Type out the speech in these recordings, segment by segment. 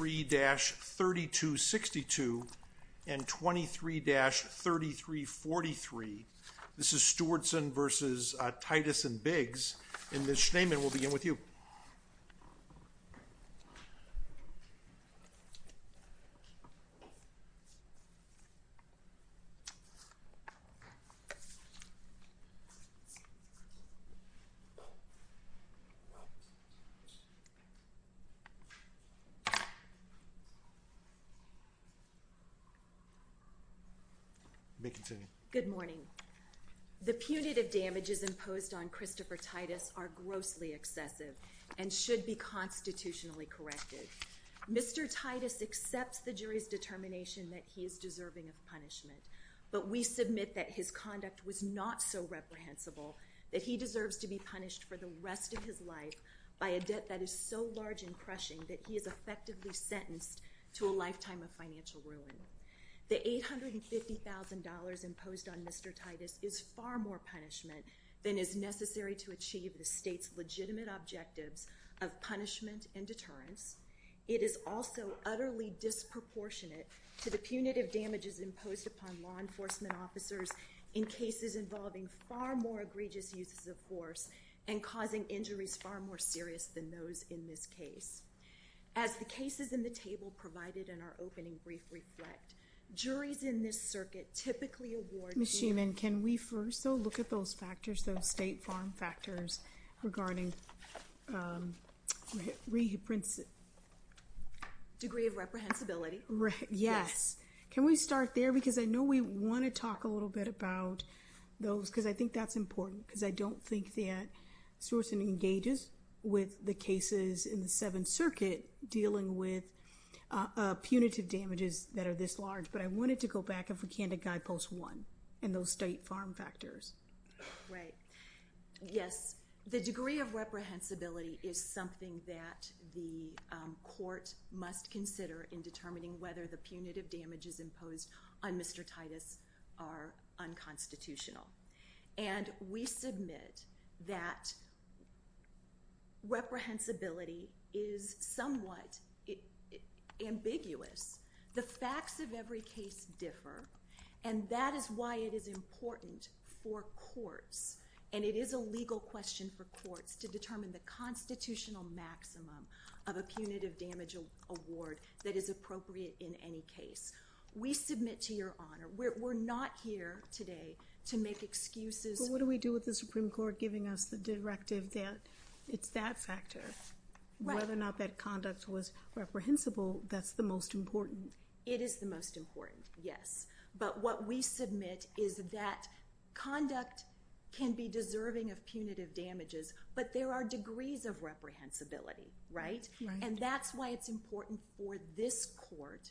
and Biggs, and Ms. Schneemann, we'll begin with you. Good morning. The punitive damages imposed on Christopher Titus are grossly excessive and should be constitutionally corrected. Mr. Titus accepts the jury's determination that he is deserving of punishment, but we submit that his conduct was not so reprehensible that he deserves to be punished for the rest of his life by a debt that is so large and crushing that he is effectively sentenced to a lifetime of financial ruin. The $850,000 imposed on Mr. Titus is far more punishment than is necessary to achieve the state's legitimate objectives of punishment and deterrence. It is also utterly disproportionate to the punitive damages imposed upon law enforcement officers in cases involving far more egregious uses of force and causing injuries far more serious than those in this case. As the cases in the table provided in our opening brief reflect, juries in this circuit typically award... Ms. Schneemann, can we first, though, look at those factors, those state farm factors regarding... Degree of reprehensibility. Yes. Can we start there? Because I know we want to talk a little bit about those, because I think that's important, because I don't think that Swerson engages with the cases in the Seventh Circuit dealing with punitive damages that are this large. But I wanted to go back, if we can, to Guidepost 1 and those state farm factors. Right. Yes, the degree of reprehensibility is something that the court must consider in determining whether the punitive damages imposed on Mr. Titus are unconstitutional. And we submit that reprehensibility is somewhat ambiguous. The facts of every case differ, and that is why it is important for courts, and it is a legal question for courts, to determine the constitutional maximum of a punitive damage award that is appropriate in any case. We submit to your honor, we're not here today to make excuses... But what do we do with the Supreme Court giving us the directive that it's that factor? Right. Whether or not that conduct was reprehensible, that's the most important. It is the most important, yes. But what we submit is that conduct can be deserving of punitive damages, but there are degrees of reprehensibility, right? Right. And that's why it's important for this court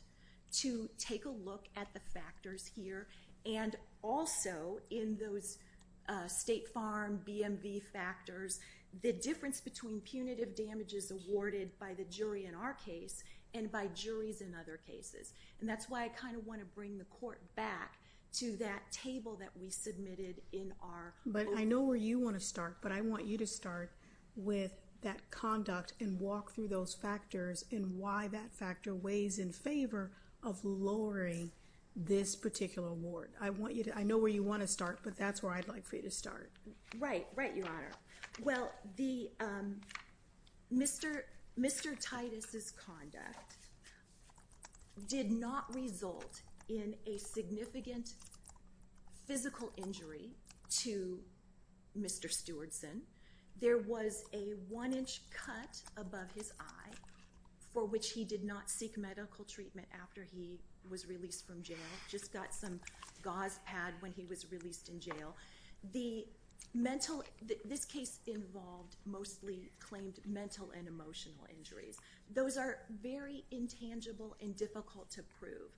to take a look at the factors here, and also in those state farm BMV factors, the difference between punitive damages awarded by the jury in our case and by juries in other cases. And that's why I kind of want to bring the court back to that table that we submitted in our... But I know where you want to start, but I want you to start with that conduct and walk through those factors and why that factor weighs in favor of lowering this particular award. I know where you want to start, but that's where I'd like for you to start. Right, right, Your Honor. Well, Mr. Titus's conduct did not result in a significant physical injury to Mr. Stewardson. There was a one-inch cut above his eye for which he did not seek medical treatment after he was released from jail. Just got some gauze pad when he was released in jail. The mental... This case involved mostly claimed mental and emotional injuries. Those are very intangible and difficult to prove.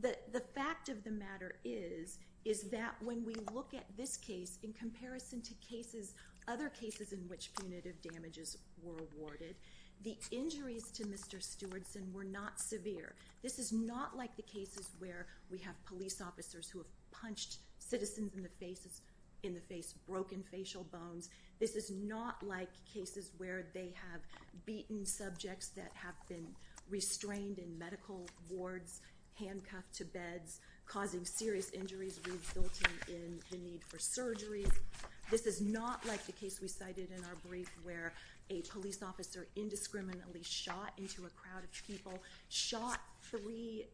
But the fact of the matter is, is that when we look at this case in comparison to cases, other cases in which punitive damages were awarded, the injuries to Mr. Stewardson were not severe. This is not like the cases where we have police officers who have punched citizens in the face, broken facial bones. This is not like cases where they have beaten subjects that have been restrained in medical wards, handcuffed to beds, causing serious injuries resulting in the need for surgery. This is not like the case we cited in our brief where a police officer indiscriminately shot into a crowd of people, shot three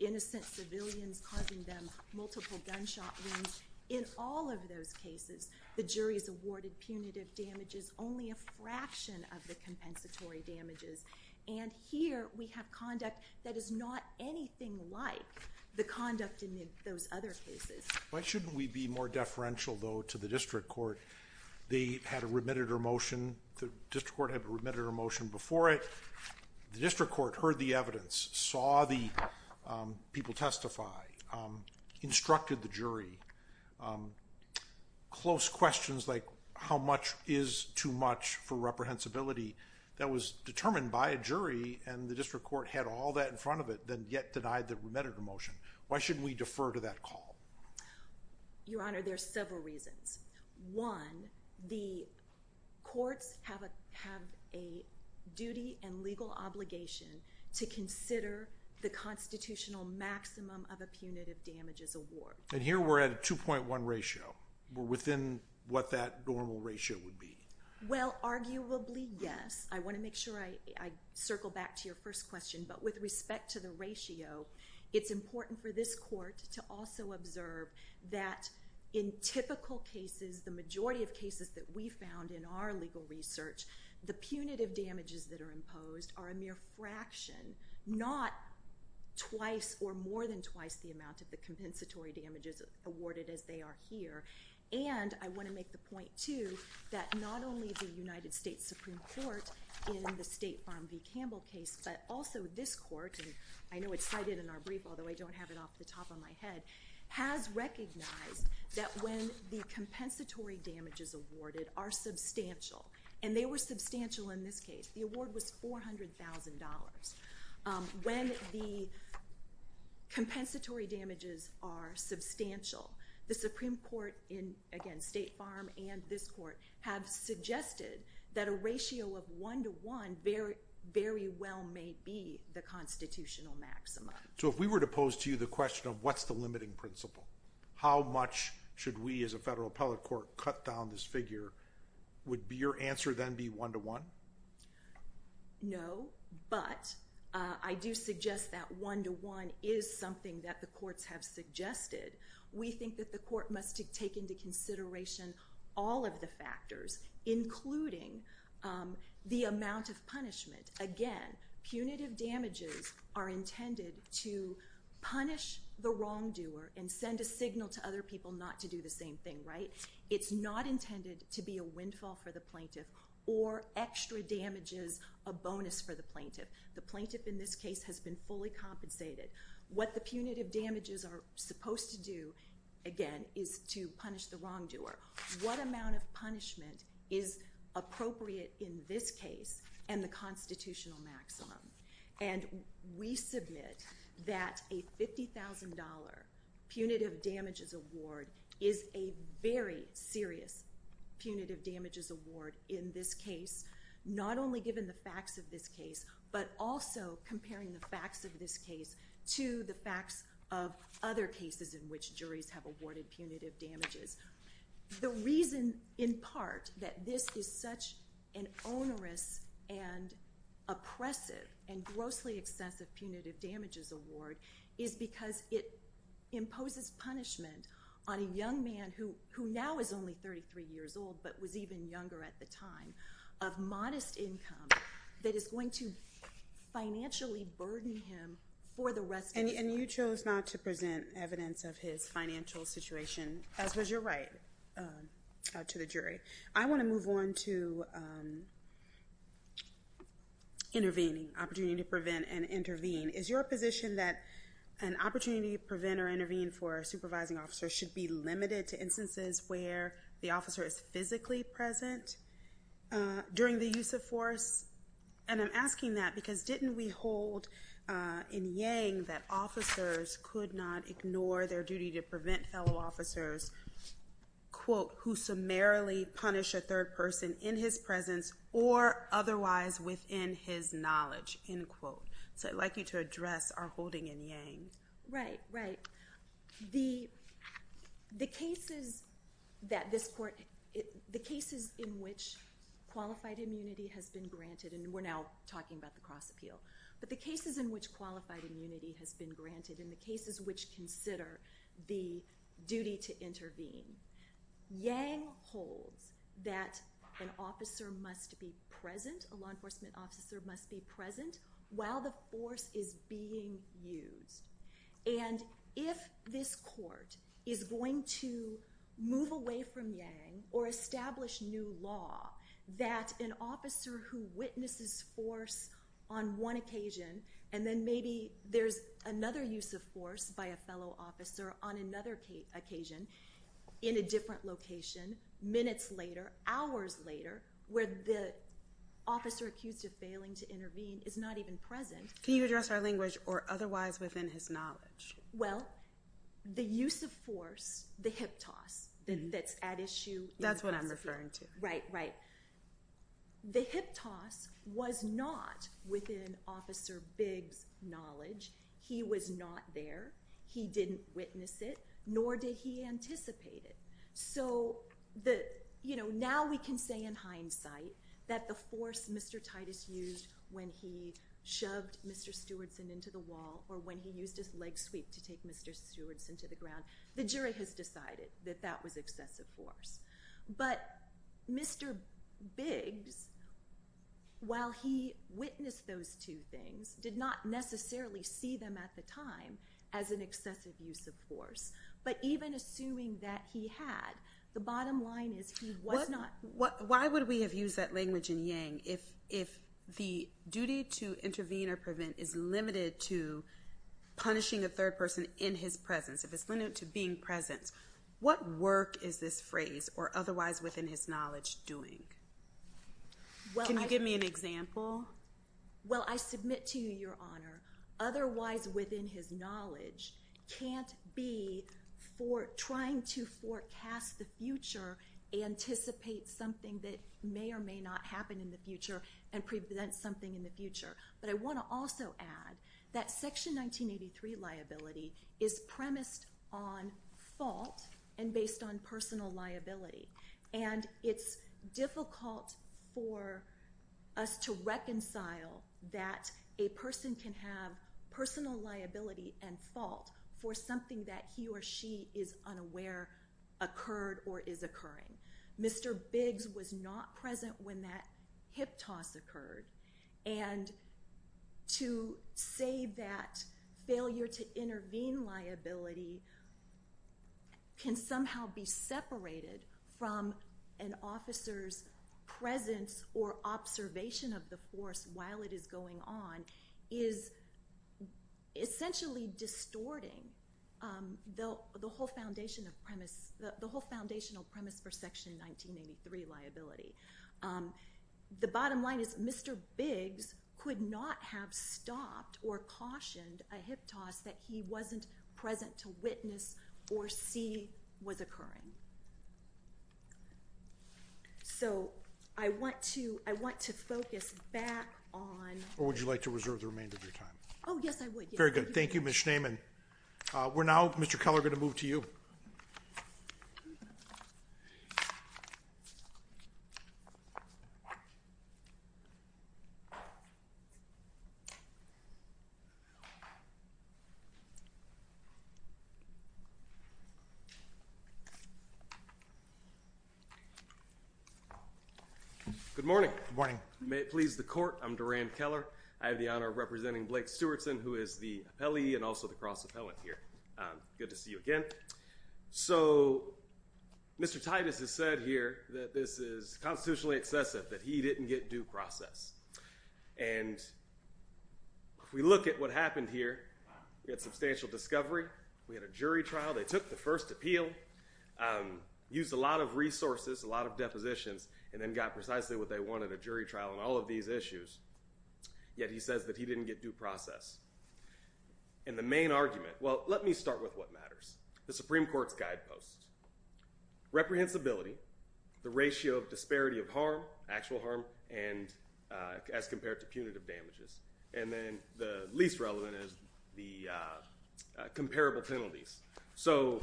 innocent civilians, causing them multiple gunshot wounds. In all of those cases, the jury's awarded punitive damages only a fraction of the compensatory damages. And here, we have conduct that is not anything like the conduct in those other cases. Why shouldn't we be more deferential, though, to the district court? They had a remitted or motion. The district court had a remitted or motion before it. The district court heard the evidence, saw the people testify, instructed the jury. Close questions like how much is too much for reprehensibility that was determined by a jury, and the district court had all that in front of it, then yet denied the remitted or motion. Why shouldn't we defer to that call? Your Honor, there are several reasons. One, the courts have a duty and legal obligation to consider the constitutional maximum of a punitive damages award. And here we're at a 2.1 ratio. We're within what that normal ratio would be. Well, arguably, yes. I want to make sure I circle back to your first question. But with respect to the ratio, it's important for this court to also observe that in typical cases, the majority of cases that we found in our legal research, the punitive damages that are imposed are a mere fraction, not twice or more than twice the amount of the compensatory damages awarded as they are here. And I want to make the point, too, that not only the United States Supreme Court in the State Farm v. Campbell case, but also this court, and I know it's cited in our brief, although I don't have it off the top of my head, has recognized that when the compensatory damages awarded are substantial, and they were substantial in this case. The award was $400,000. When the compensatory damages are substantial, the Supreme Court in, again, State Farm and this court, have suggested that a ratio of one-to-one very well may be the constitutional maximum. So if we were to pose to you the question of what's the limiting principle, how much should we as a federal appellate court cut down this figure, would your answer then be one-to-one? No, but I do suggest that one-to-one is something that the courts have suggested. We think that the court must take into consideration all of the factors, including the amount of punishment. Again, punitive damages are intended to punish the wrongdoer and send a signal to other people not to do the same thing, right? It's not intended to be a windfall for the plaintiff or extra damages, a bonus for the plaintiff. The plaintiff in this case has been fully compensated. What the punitive damages are supposed to do, again, is to punish the wrongdoer. What amount of punishment is appropriate in this case and the constitutional maximum? And we submit that a $50,000 punitive damages award is a very serious punitive damages award in this case, not only given the facts of this case, but also comparing the facts of this case to the facts of other cases in which juries have awarded punitive damages. The reason, in part, that this is such an onerous and oppressive and grossly excessive punitive damages award is because it imposes punishment on a young man who now is only 33 years old but was even younger at the time of modest income that is going to financially burden him for the rest of his life. And you chose not to present evidence of his financial situation, as was your right to the jury. I want to move on to intervening, opportunity to prevent and intervene. Is your position that an opportunity to prevent or intervene for a supervising officer should be limited to instances where the officer is physically present during the use of force? And I'm asking that because didn't we hold in Yang that officers could not ignore their duty to prevent fellow officers quote, who summarily punish a third person in his presence or otherwise within his knowledge, end quote. So I'd like you to address our holding in Yang. Right, right. The cases that this court, the cases in which qualified immunity has been granted, and we're now talking about the cross appeal, but the cases in which qualified immunity has been granted and the cases which consider the duty to intervene, Yang holds that an officer must be present, a law enforcement officer must be present while the force is being used. And if this court is going to move away from Yang or establish new law that an officer who witnesses force on one occasion and then maybe there's another use of force by a fellow officer on another occasion in a different location minutes later, hours later, where the officer accused of failing to intervene is not even present. Can you address our language or otherwise within his knowledge? Well, the use of force, the hip toss that's at issue. That's what I'm referring to. Right, right. The hip toss was not within Officer Bigg's knowledge. He was not there. He didn't witness it, nor did he anticipate it. So now we can say in hindsight that the force Mr. Titus used when he shoved Mr. Stewardson into the wall or when he used his leg sweep to take Mr. Stewardson to the ground, the jury has decided that that was excessive force. But Mr. Biggs, while he witnessed those two things, did not necessarily see them at the time as an excessive use of force. But even assuming that he had, the bottom line is he was not. Why would we have used that language in Yang if the duty to intervene or prevent is limited to punishing a third person in his presence, if it's limited to being present? What work is this phrase or otherwise within his knowledge doing? Can you give me an example? Well, I submit to you, Your Honor, otherwise within his knowledge can't be for trying to forecast the future, anticipate something that may or may not happen in the future, and prevent something in the future. But I want to also add that Section 1983 liability is premised on fault and based on personal liability. And it's difficult for us to reconcile that a person can have personal liability and fault for something that he or she is unaware occurred or is occurring. Mr. Biggs was not present when that hip toss occurred. And to say that failure to intervene liability can somehow be separated from an officer's presence or observation of the force while it is going on is essentially distorting the whole foundational premise for Section 1983 liability. The bottom line is Mr. Biggs could not have stopped or cautioned a hip toss that he wasn't present to witness or see was occurring. So I want to focus back on... Or would you like to reserve the remainder of your time? Oh, yes, I would. Very good. Thank you, Ms. Schneeman. We're now, Mr. Keller, going to move to you. Good morning. Good morning. May it please the court, I'm Durand Keller. I have the honor of representing Blake Stewartson, who is the appellee and also the cross-appellant here. Good to see you again. So Mr. Titus has said here that this is constitutionally excessive, that he didn't get due process. And if we look at what happened here, we had substantial discovery. We had a jury trial. They took the first appeal, used a lot of resources, a lot of depositions, and then got precisely what they wanted, a jury trial on all of these issues. Yet he says that he didn't get due process. And the main argument, well, let me start with what matters. The Supreme Court's guideposts. Reprehensibility, the ratio of disparity of harm, actual harm, and as compared to punitive damages. And then the least relevant is the comparable penalties. So,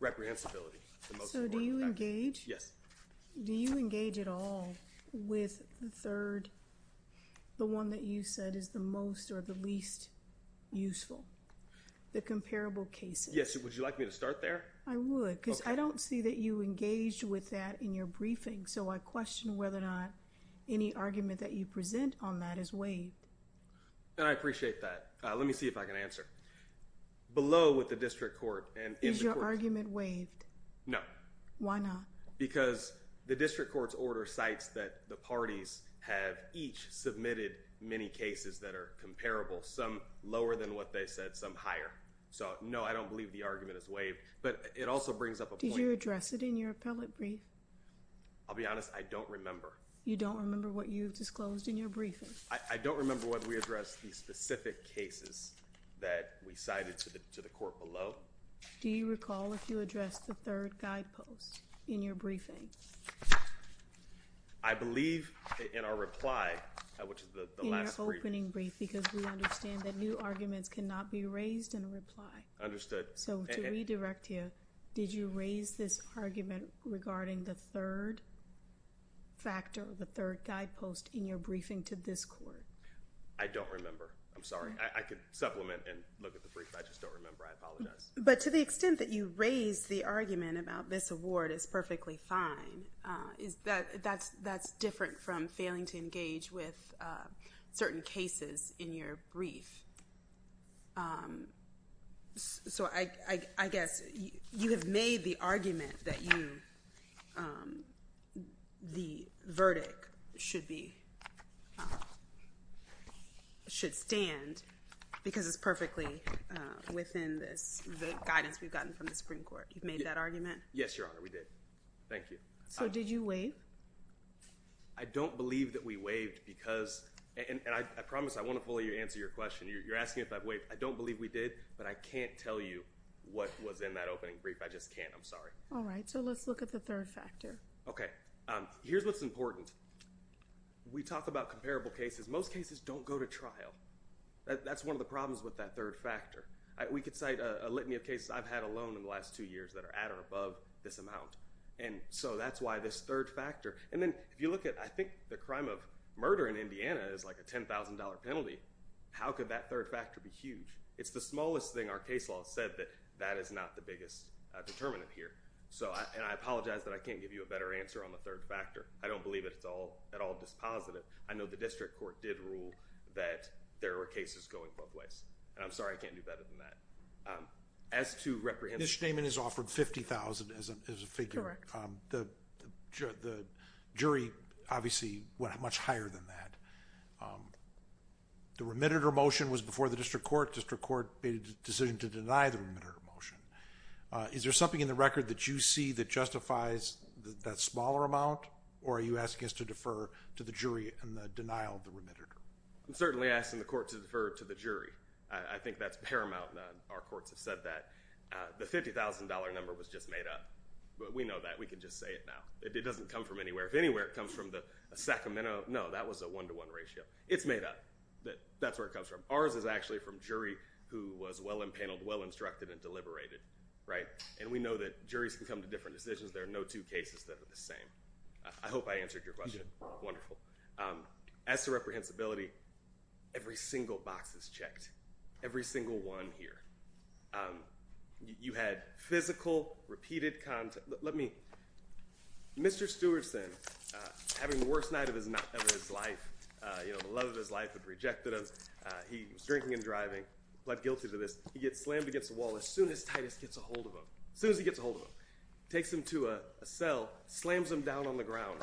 reprehensibility, the most important factor. So do you engage? Yes. Do you engage at all with the third, the one that you said is the most or the least useful, the comparable cases? Yes. Would you like me to start there? I would because I don't see that you engaged with that in your briefing. So I question whether or not any argument that you present on that is waived. I appreciate that. Let me see if I can answer. Below with the district court and in the court. Is your argument waived? No. Why not? Because the district court's order cites that the parties have each submitted many cases that are comparable, some lower than what they said, some higher. So, no, I don't believe the argument is waived. But it also brings up a point. Did you address it in your appellate brief? I'll be honest, I don't remember. You don't remember what you've disclosed in your briefing? I don't remember whether we addressed the specific cases that we cited to the court below. Do you recall if you addressed the third guidepost in your briefing? I believe in our reply, which is the last brief. In your opening brief because we understand that new arguments cannot be raised in a reply. Understood. So to redirect here, did you raise this argument regarding the third factor, the third guidepost in your briefing to this court? I don't remember. I'm sorry. I could supplement and look at the brief, but I just don't remember. I apologize. But to the extent that you raise the argument about this award is perfectly fine, that's different from failing to engage with certain cases in your brief. So I guess you have made the argument that the verdict should stand because it's perfectly within the guidance we've gotten from the Supreme Court. You've made that argument? Yes, Your Honor, we did. Thank you. So did you waive? I don't believe that we waived because, and I promise I won't fully answer your question. You're asking if I waived. I don't believe we did, but I can't tell you what was in that opening brief. I just can't. I'm sorry. All right. So let's look at the third factor. Okay. Here's what's important. We talk about comparable cases. Most cases don't go to trial. That's one of the problems with that third factor. We could cite a litany of cases I've had alone in the last two years that are at or above this amount. And so that's why this third factor. And then if you look at, I think the crime of murder in Indiana is like a $10,000 penalty. How could that third factor be huge? It's the smallest thing our case law has said that that is not the biggest determinant here. And I apologize that I can't give you a better answer on the third factor. I don't believe it's at all dispositive. I know the district court did rule that there were cases going both ways. And I'm sorry I can't do better than that. Ms. Schneeman has offered $50,000 as a figure. The jury obviously went much higher than that. The remitter motion was before the district court. District court made a decision to deny the remitter motion. Is there something in the record that you see that justifies that smaller amount? Or are you asking us to defer to the jury in the denial of the remitter? I'm certainly asking the court to defer to the jury. I think that's paramount. Our courts have said that. The $50,000 number was just made up. But we know that. We can just say it now. It doesn't come from anywhere. If anywhere it comes from the Sacramento, no, that was a one-to-one ratio. It's made up. That's where it comes from. Ours is actually from a jury who was well-impaneled, well-instructed, and deliberated. And we know that juries can come to different decisions. There are no two cases that are the same. I hope I answered your question. As to reprehensibility, every single box is checked. Every single one here. You had physical, repeated contact. Mr. Stewardson, having the worst night of his life, the love of his life had rejected him. He was drinking and driving, pled guilty to this. He gets slammed against the wall as soon as Titus gets a hold of him. As soon as he gets a hold of him. Takes him to a cell, slams him down on the ground.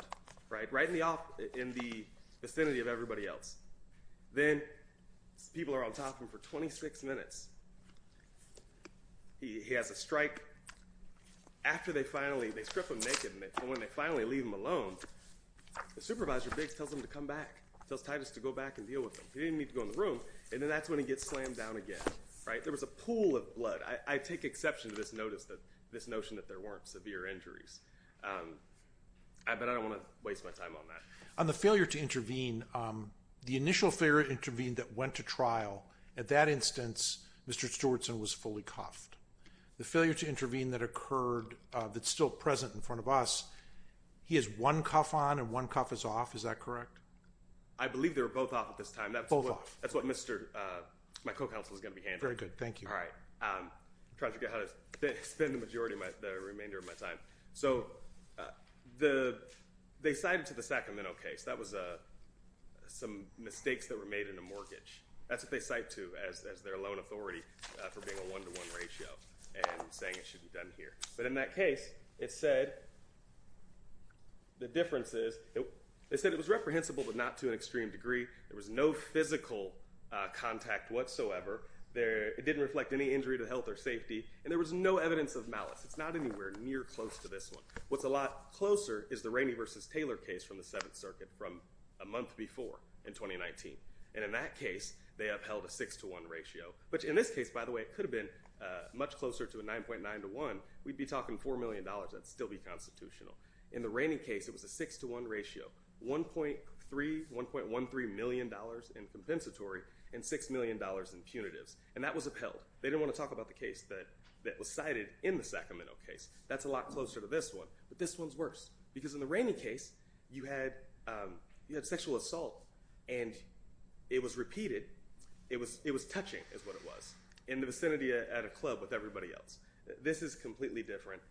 Right in the vicinity of everybody else. Then people are on top of him for 26 minutes. He has a strike. After they finally strip him naked and when they finally leave him alone, the supervisor Biggs tells him to come back. Tells Titus to go back and deal with him. He didn't even need to go in the room. And then that's when he gets slammed down again. There was a pool of blood. I take exception to this notion that there weren't severe injuries. But I don't want to waste my time on that. On the failure to intervene, the initial failure to intervene that went to trial, at that instance, Mr. Stewardson was fully cuffed. The failure to intervene that occurred, that's still present in front of us, he has one cuff on and one cuff is off, is that correct? I believe they were both off at this time. Both off. That's what my co-counsel is going to be handling. Very good, thank you. All right. Trying to figure out how to spend the majority of the remainder of my time. So they cited to the Sacramento case. That was some mistakes that were made in a mortgage. That's what they cite to as their loan authority for being a one-to-one ratio and saying it should be done here. But in that case, it said the difference is they said it was reprehensible but not to an extreme degree. There was no physical contact whatsoever. It didn't reflect any injury to health or safety. And there was no evidence of malice. It's not anywhere near close to this one. What's a lot closer is the Rainey v. Taylor case from the Seventh Circuit from a month before in 2019. And in that case, they upheld a six-to-one ratio, which in this case, by the way, could have been much closer to a 9.9-to-1. We'd be talking $4 million. That'd still be constitutional. In the Rainey case, it was a six-to-one ratio, $1.13 million in compensatory and $6 million in punitives. And that was upheld. They didn't want to talk about the case that was cited in the Sacramento case. That's a lot closer to this one. But this one's worse because in the Rainey case, you had sexual assault, and it was repeated. It was touching is what it was in the vicinity at a club with everybody else. This is completely different.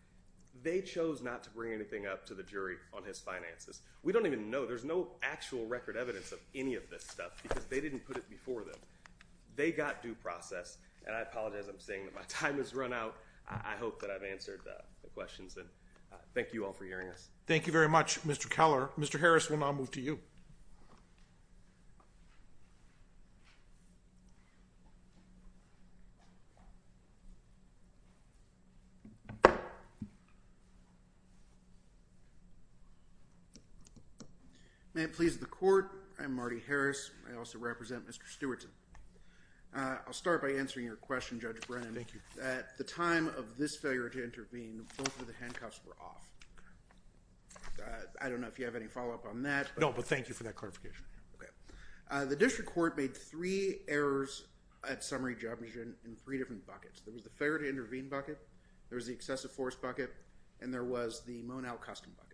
They chose not to bring anything up to the jury on his finances. We don't even know. There's no actual record evidence of any of this stuff because they didn't put it before them. They got due process, and I apologize. I'm saying that my time has run out. I hope that I've answered the questions, and thank you all for hearing us. Thank you very much, Mr. Keller. Mr. Harris, we'll now move to you. May it please the court. I'm Marty Harris. I also represent Mr. Stewartson. I'll start by answering your question, Judge Brennan. At the time of this failure to intervene, both of the handcuffs were off. I don't know if you have any follow-up on that. No, but thank you for that clarification. Okay. The district court made three errors at summary judgment in three different buckets. There was the failure to intervene bucket. There was the excessive force bucket, and there was the Monell custom bucket.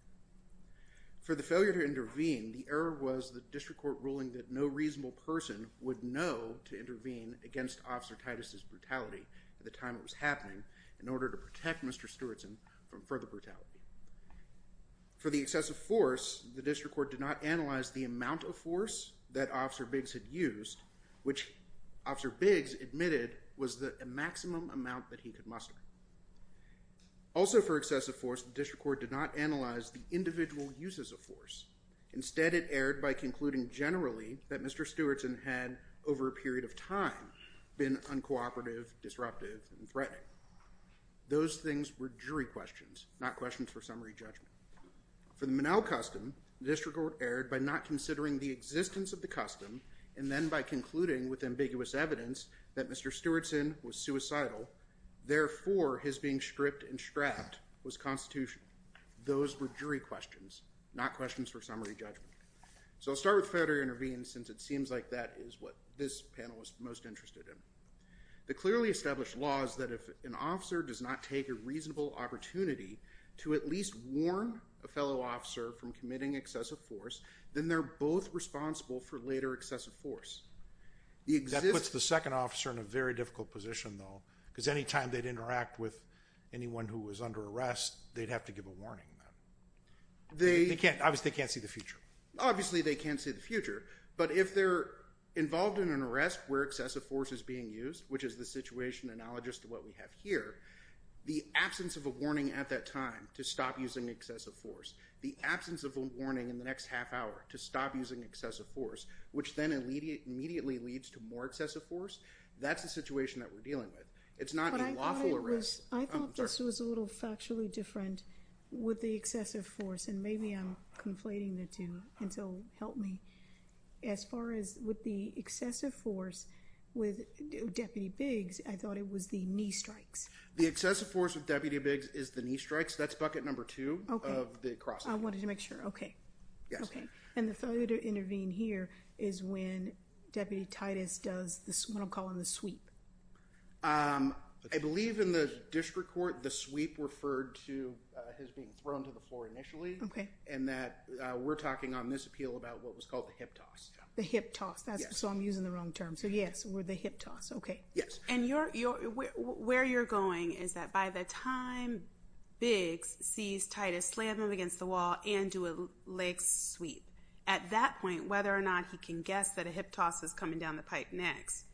For the failure to intervene, the error was the district court ruling that no reasonable person would know to intervene against Officer Titus' brutality at the time it was happening in order to protect Mr. Stewartson from further brutality. For the excessive force, the district court did not analyze the amount of force that Officer Biggs had used, which Officer Biggs admitted was the maximum amount that he could muster. Also for excessive force, the district court did not analyze the individual uses of force. Instead, it erred by concluding generally that Mr. Stewartson had, over a period of time, been uncooperative, disruptive, and threatening. Those things were jury questions, not questions for summary judgment. For the Monell custom, the district court erred by not considering the existence of the custom and then by concluding with ambiguous evidence that Mr. Stewartson was suicidal. Therefore, his being stripped and strapped was constitutional. Those were jury questions, not questions for summary judgment. So I'll start with failure to intervene since it seems like that is what this panel is most interested in. The clearly established law is that if an officer does not take a reasonable opportunity to at least warn a fellow officer from committing excessive force, then they're both responsible for later excessive force. That puts the second officer in a very difficult position, though, because any time they'd interact with anyone who was under arrest, they'd have to give a warning. Obviously, they can't see the future. Obviously, they can't see the future. But if they're involved in an arrest where excessive force is being used, which is the situation analogous to what we have here, the absence of a warning at that time to stop using excessive force, the absence of a warning in the next half hour to stop using excessive force, which then immediately leads to more excessive force, that's the situation that we're dealing with. I thought this was a little factually different with the excessive force. And maybe I'm conflating the two, and so help me. As far as with the excessive force with Deputy Biggs, I thought it was the knee strikes. The excessive force with Deputy Biggs is the knee strikes. That's bucket number two of the cross. I wanted to make sure. And the failure to intervene here is when Deputy Titus does what I'm calling the sweep. I believe in the district court the sweep referred to as being thrown to the floor initially. Okay. And that we're talking on this appeal about what was called the hip toss. The hip toss. So I'm using the wrong term. So yes, the hip toss. Yes. And where you're going is that by the time Biggs sees Titus slam him against the wall and do a leg sweep, at that point, whether or not he can guess that a hip toss is coming down the pipe next,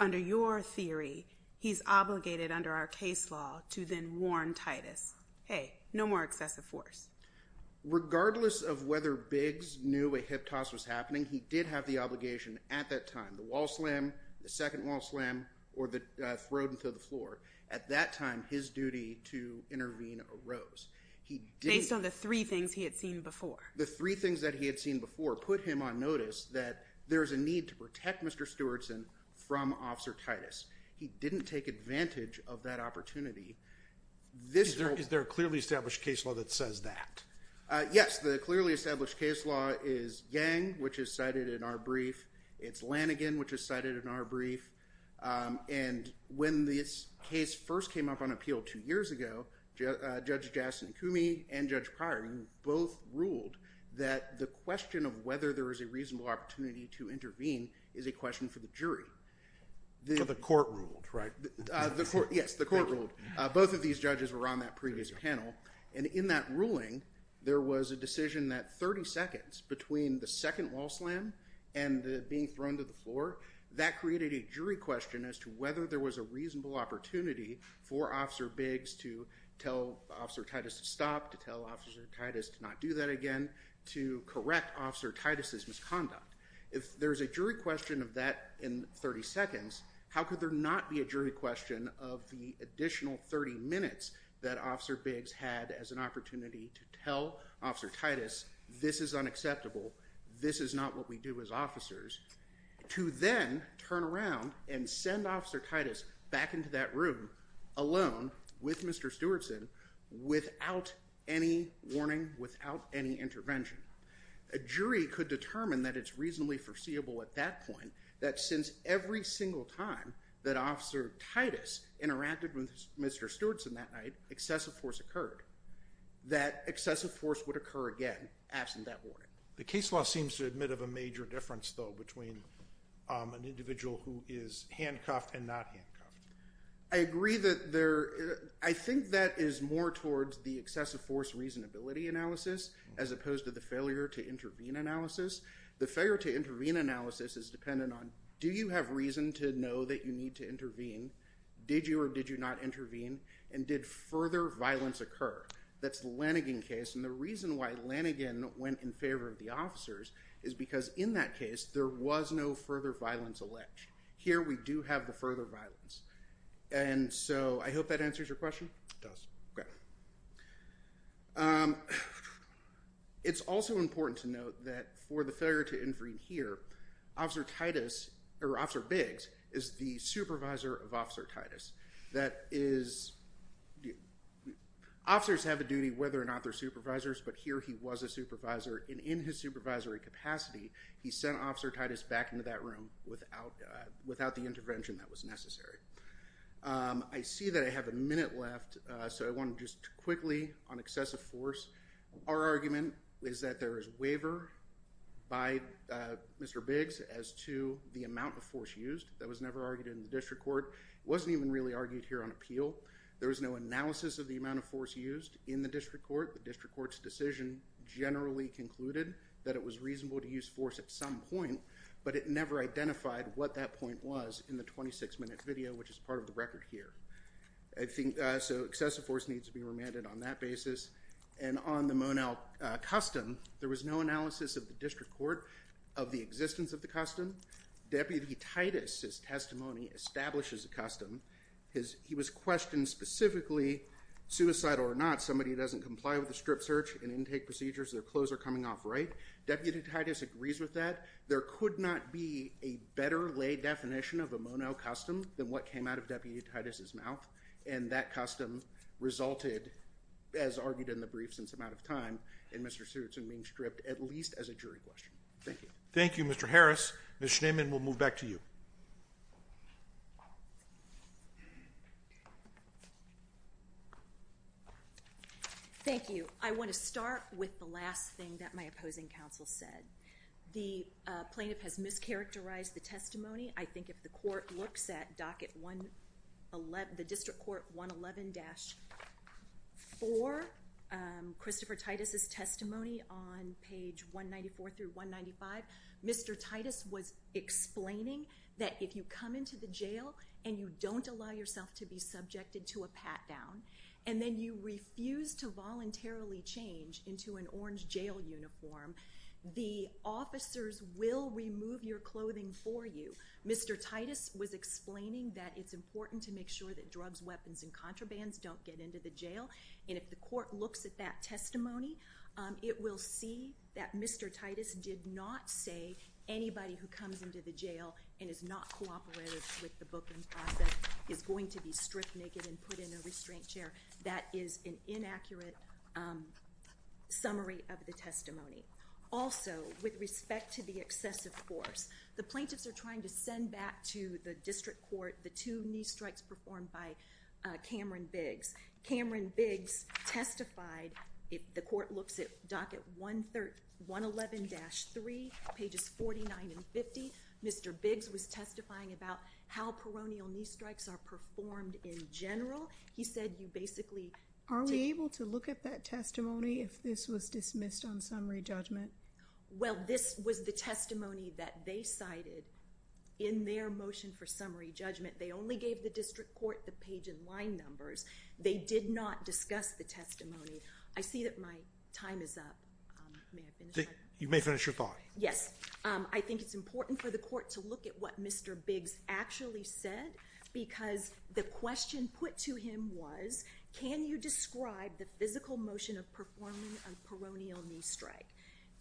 under your theory, he's obligated under our case law to then warn Titus, hey, no more excessive force. Regardless of whether Biggs knew a hip toss was happening, he did have the obligation at that time. The wall slam, the second wall slam, or the throw him to the floor. At that time, his duty to intervene arose. Based on the three things he had seen before. The three things that he had seen before put him on notice that there's a need to protect Mr. Stewartson from Officer Titus. He didn't take advantage of that opportunity. Is there a clearly established case law that says that? Yes. The clearly established case law is Yang, which is cited in our brief. It's Lanigan, which is cited in our brief. When this case first came up on appeal two years ago, Judge Jasson-Kumey and Judge Pryor both ruled that the question of whether there was a reasonable opportunity to intervene is a question for the jury. The court ruled, right? Yes, the court ruled. Both of these judges were on that previous panel. In that ruling, there was a decision that 30 seconds between the second wall slam and the being thrown to the floor, that created a jury question as to whether there was a reasonable opportunity for Officer Biggs to tell Officer Titus to stop, to tell Officer Titus to not do that again, to correct Officer Titus' misconduct. If there's a jury question of that in 30 seconds, how could there not be a jury question of the additional 30 minutes that Officer Biggs had as an opportunity to tell Officer Titus, this is unacceptable, this is not what we do as officers, to then turn around and send Officer Titus back into that room alone with Mr. Stewartson without any warning, without any intervention? A jury could determine that it's reasonably foreseeable at that point that since every single time that Officer Titus interacted with Mr. Stewartson that night, excessive force occurred, that excessive force would occur again absent that warning. The case law seems to admit of a major difference, though, between an individual who is handcuffed and not handcuffed. I agree that there, I think that is more towards the excessive force reasonability analysis as opposed to the failure to intervene analysis. The failure to intervene analysis is dependent on do you have reason to know that you need to intervene, did you or did you not intervene, and did further violence occur? That's the Lanigan case, and the reason why Lanigan went in favor of the officers is because in that case there was no further violence alleged. Here we do have the further violence, and so I hope that answers your question? It does. Supervisors have a duty whether or not they're supervisors, but here he was a supervisor, and in his supervisory capacity he sent Officer Titus back into that room without the intervention that was necessary. I see that I have a minute left, so I want to just quickly on excessive force. Our argument is that there is waiver by Mr. Biggs as to the amount of force used. That was never argued in the district court. It wasn't even really argued here on appeal. There was no analysis of the amount of force used in the district court. The district court's decision generally concluded that it was reasonable to use force at some point, but it never identified what that point was in the 26-minute video, which is part of the record here. So excessive force needs to be remanded on that basis. And on the Monell custom, there was no analysis of the district court of the existence of the custom. Deputy Titus's testimony establishes a custom. He was questioned specifically suicidal or not. Somebody doesn't comply with the strip search and intake procedures, their clothes are coming off right. Deputy Titus agrees with that. There could not be a better lay definition of a Monell custom than what came out of Deputy Titus's mouth, and that custom resulted, as argued in the brief since I'm out of time, in Mr. Stewartson being stripped at least as a jury question. Thank you. Thank you, Mr. Harris. Ms. Schneeman, we'll move back to you. Thank you. I want to start with the last thing that my opposing counsel said. The plaintiff has mischaracterized the testimony. I think if the court looks at docket 111, the district court 111-4, Christopher Titus's testimony on page 194 through 195, Mr. Titus was explaining that if you come into the jail and you don't allow yourself to be subjected to a pat down, and then you refuse to voluntarily change into an orange jail uniform, the officers will remove your clothing for you. Mr. Titus was explaining that it's important to make sure that drugs, weapons, and contrabands don't get into the jail. And if the court looks at that testimony, it will see that Mr. Titus did not say anybody who comes into the jail and is not cooperative with the booking process is going to be stripped naked and put in a restraint chair. That is an inaccurate summary of the testimony. Also, with respect to the excessive force, the plaintiffs are trying to send back to the district court the two knee strikes performed by Cameron Biggs. Cameron Biggs testified. The court looks at docket 111-3, pages 49 and 50. Mr. Biggs was testifying about how peronial knee strikes are performed in general. Are we able to look at that testimony if this was dismissed on summary judgment? Well, this was the testimony that they cited in their motion for summary judgment. They only gave the district court the page and line numbers. They did not discuss the testimony. I see that my time is up. You may finish your thought. Yes. I think it's important for the court to look at what Mr. Biggs actually said because the question put to him was can you describe the physical motion of performing a peronial knee strike?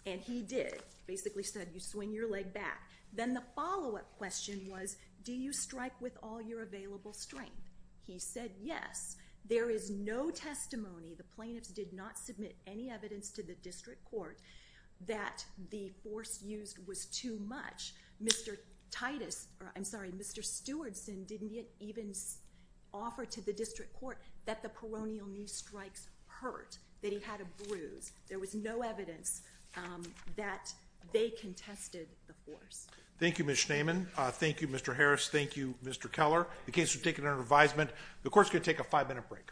And he did. He basically said you swing your leg back. Then the follow-up question was do you strike with all your available strength? He said yes. There is no testimony. The plaintiffs did not submit any evidence to the district court that the force used was too much. Mr. Titus or I'm sorry, Mr. Stewardson didn't even offer to the district court that the peronial knee strikes hurt, that he had a bruise. There was no evidence that they contested the force. Thank you, Ms. Schneeman. Thank you, Mr. Harris. Thank you, Mr. Keller. The case was taken under advisement. The court is going to take a five-minute break.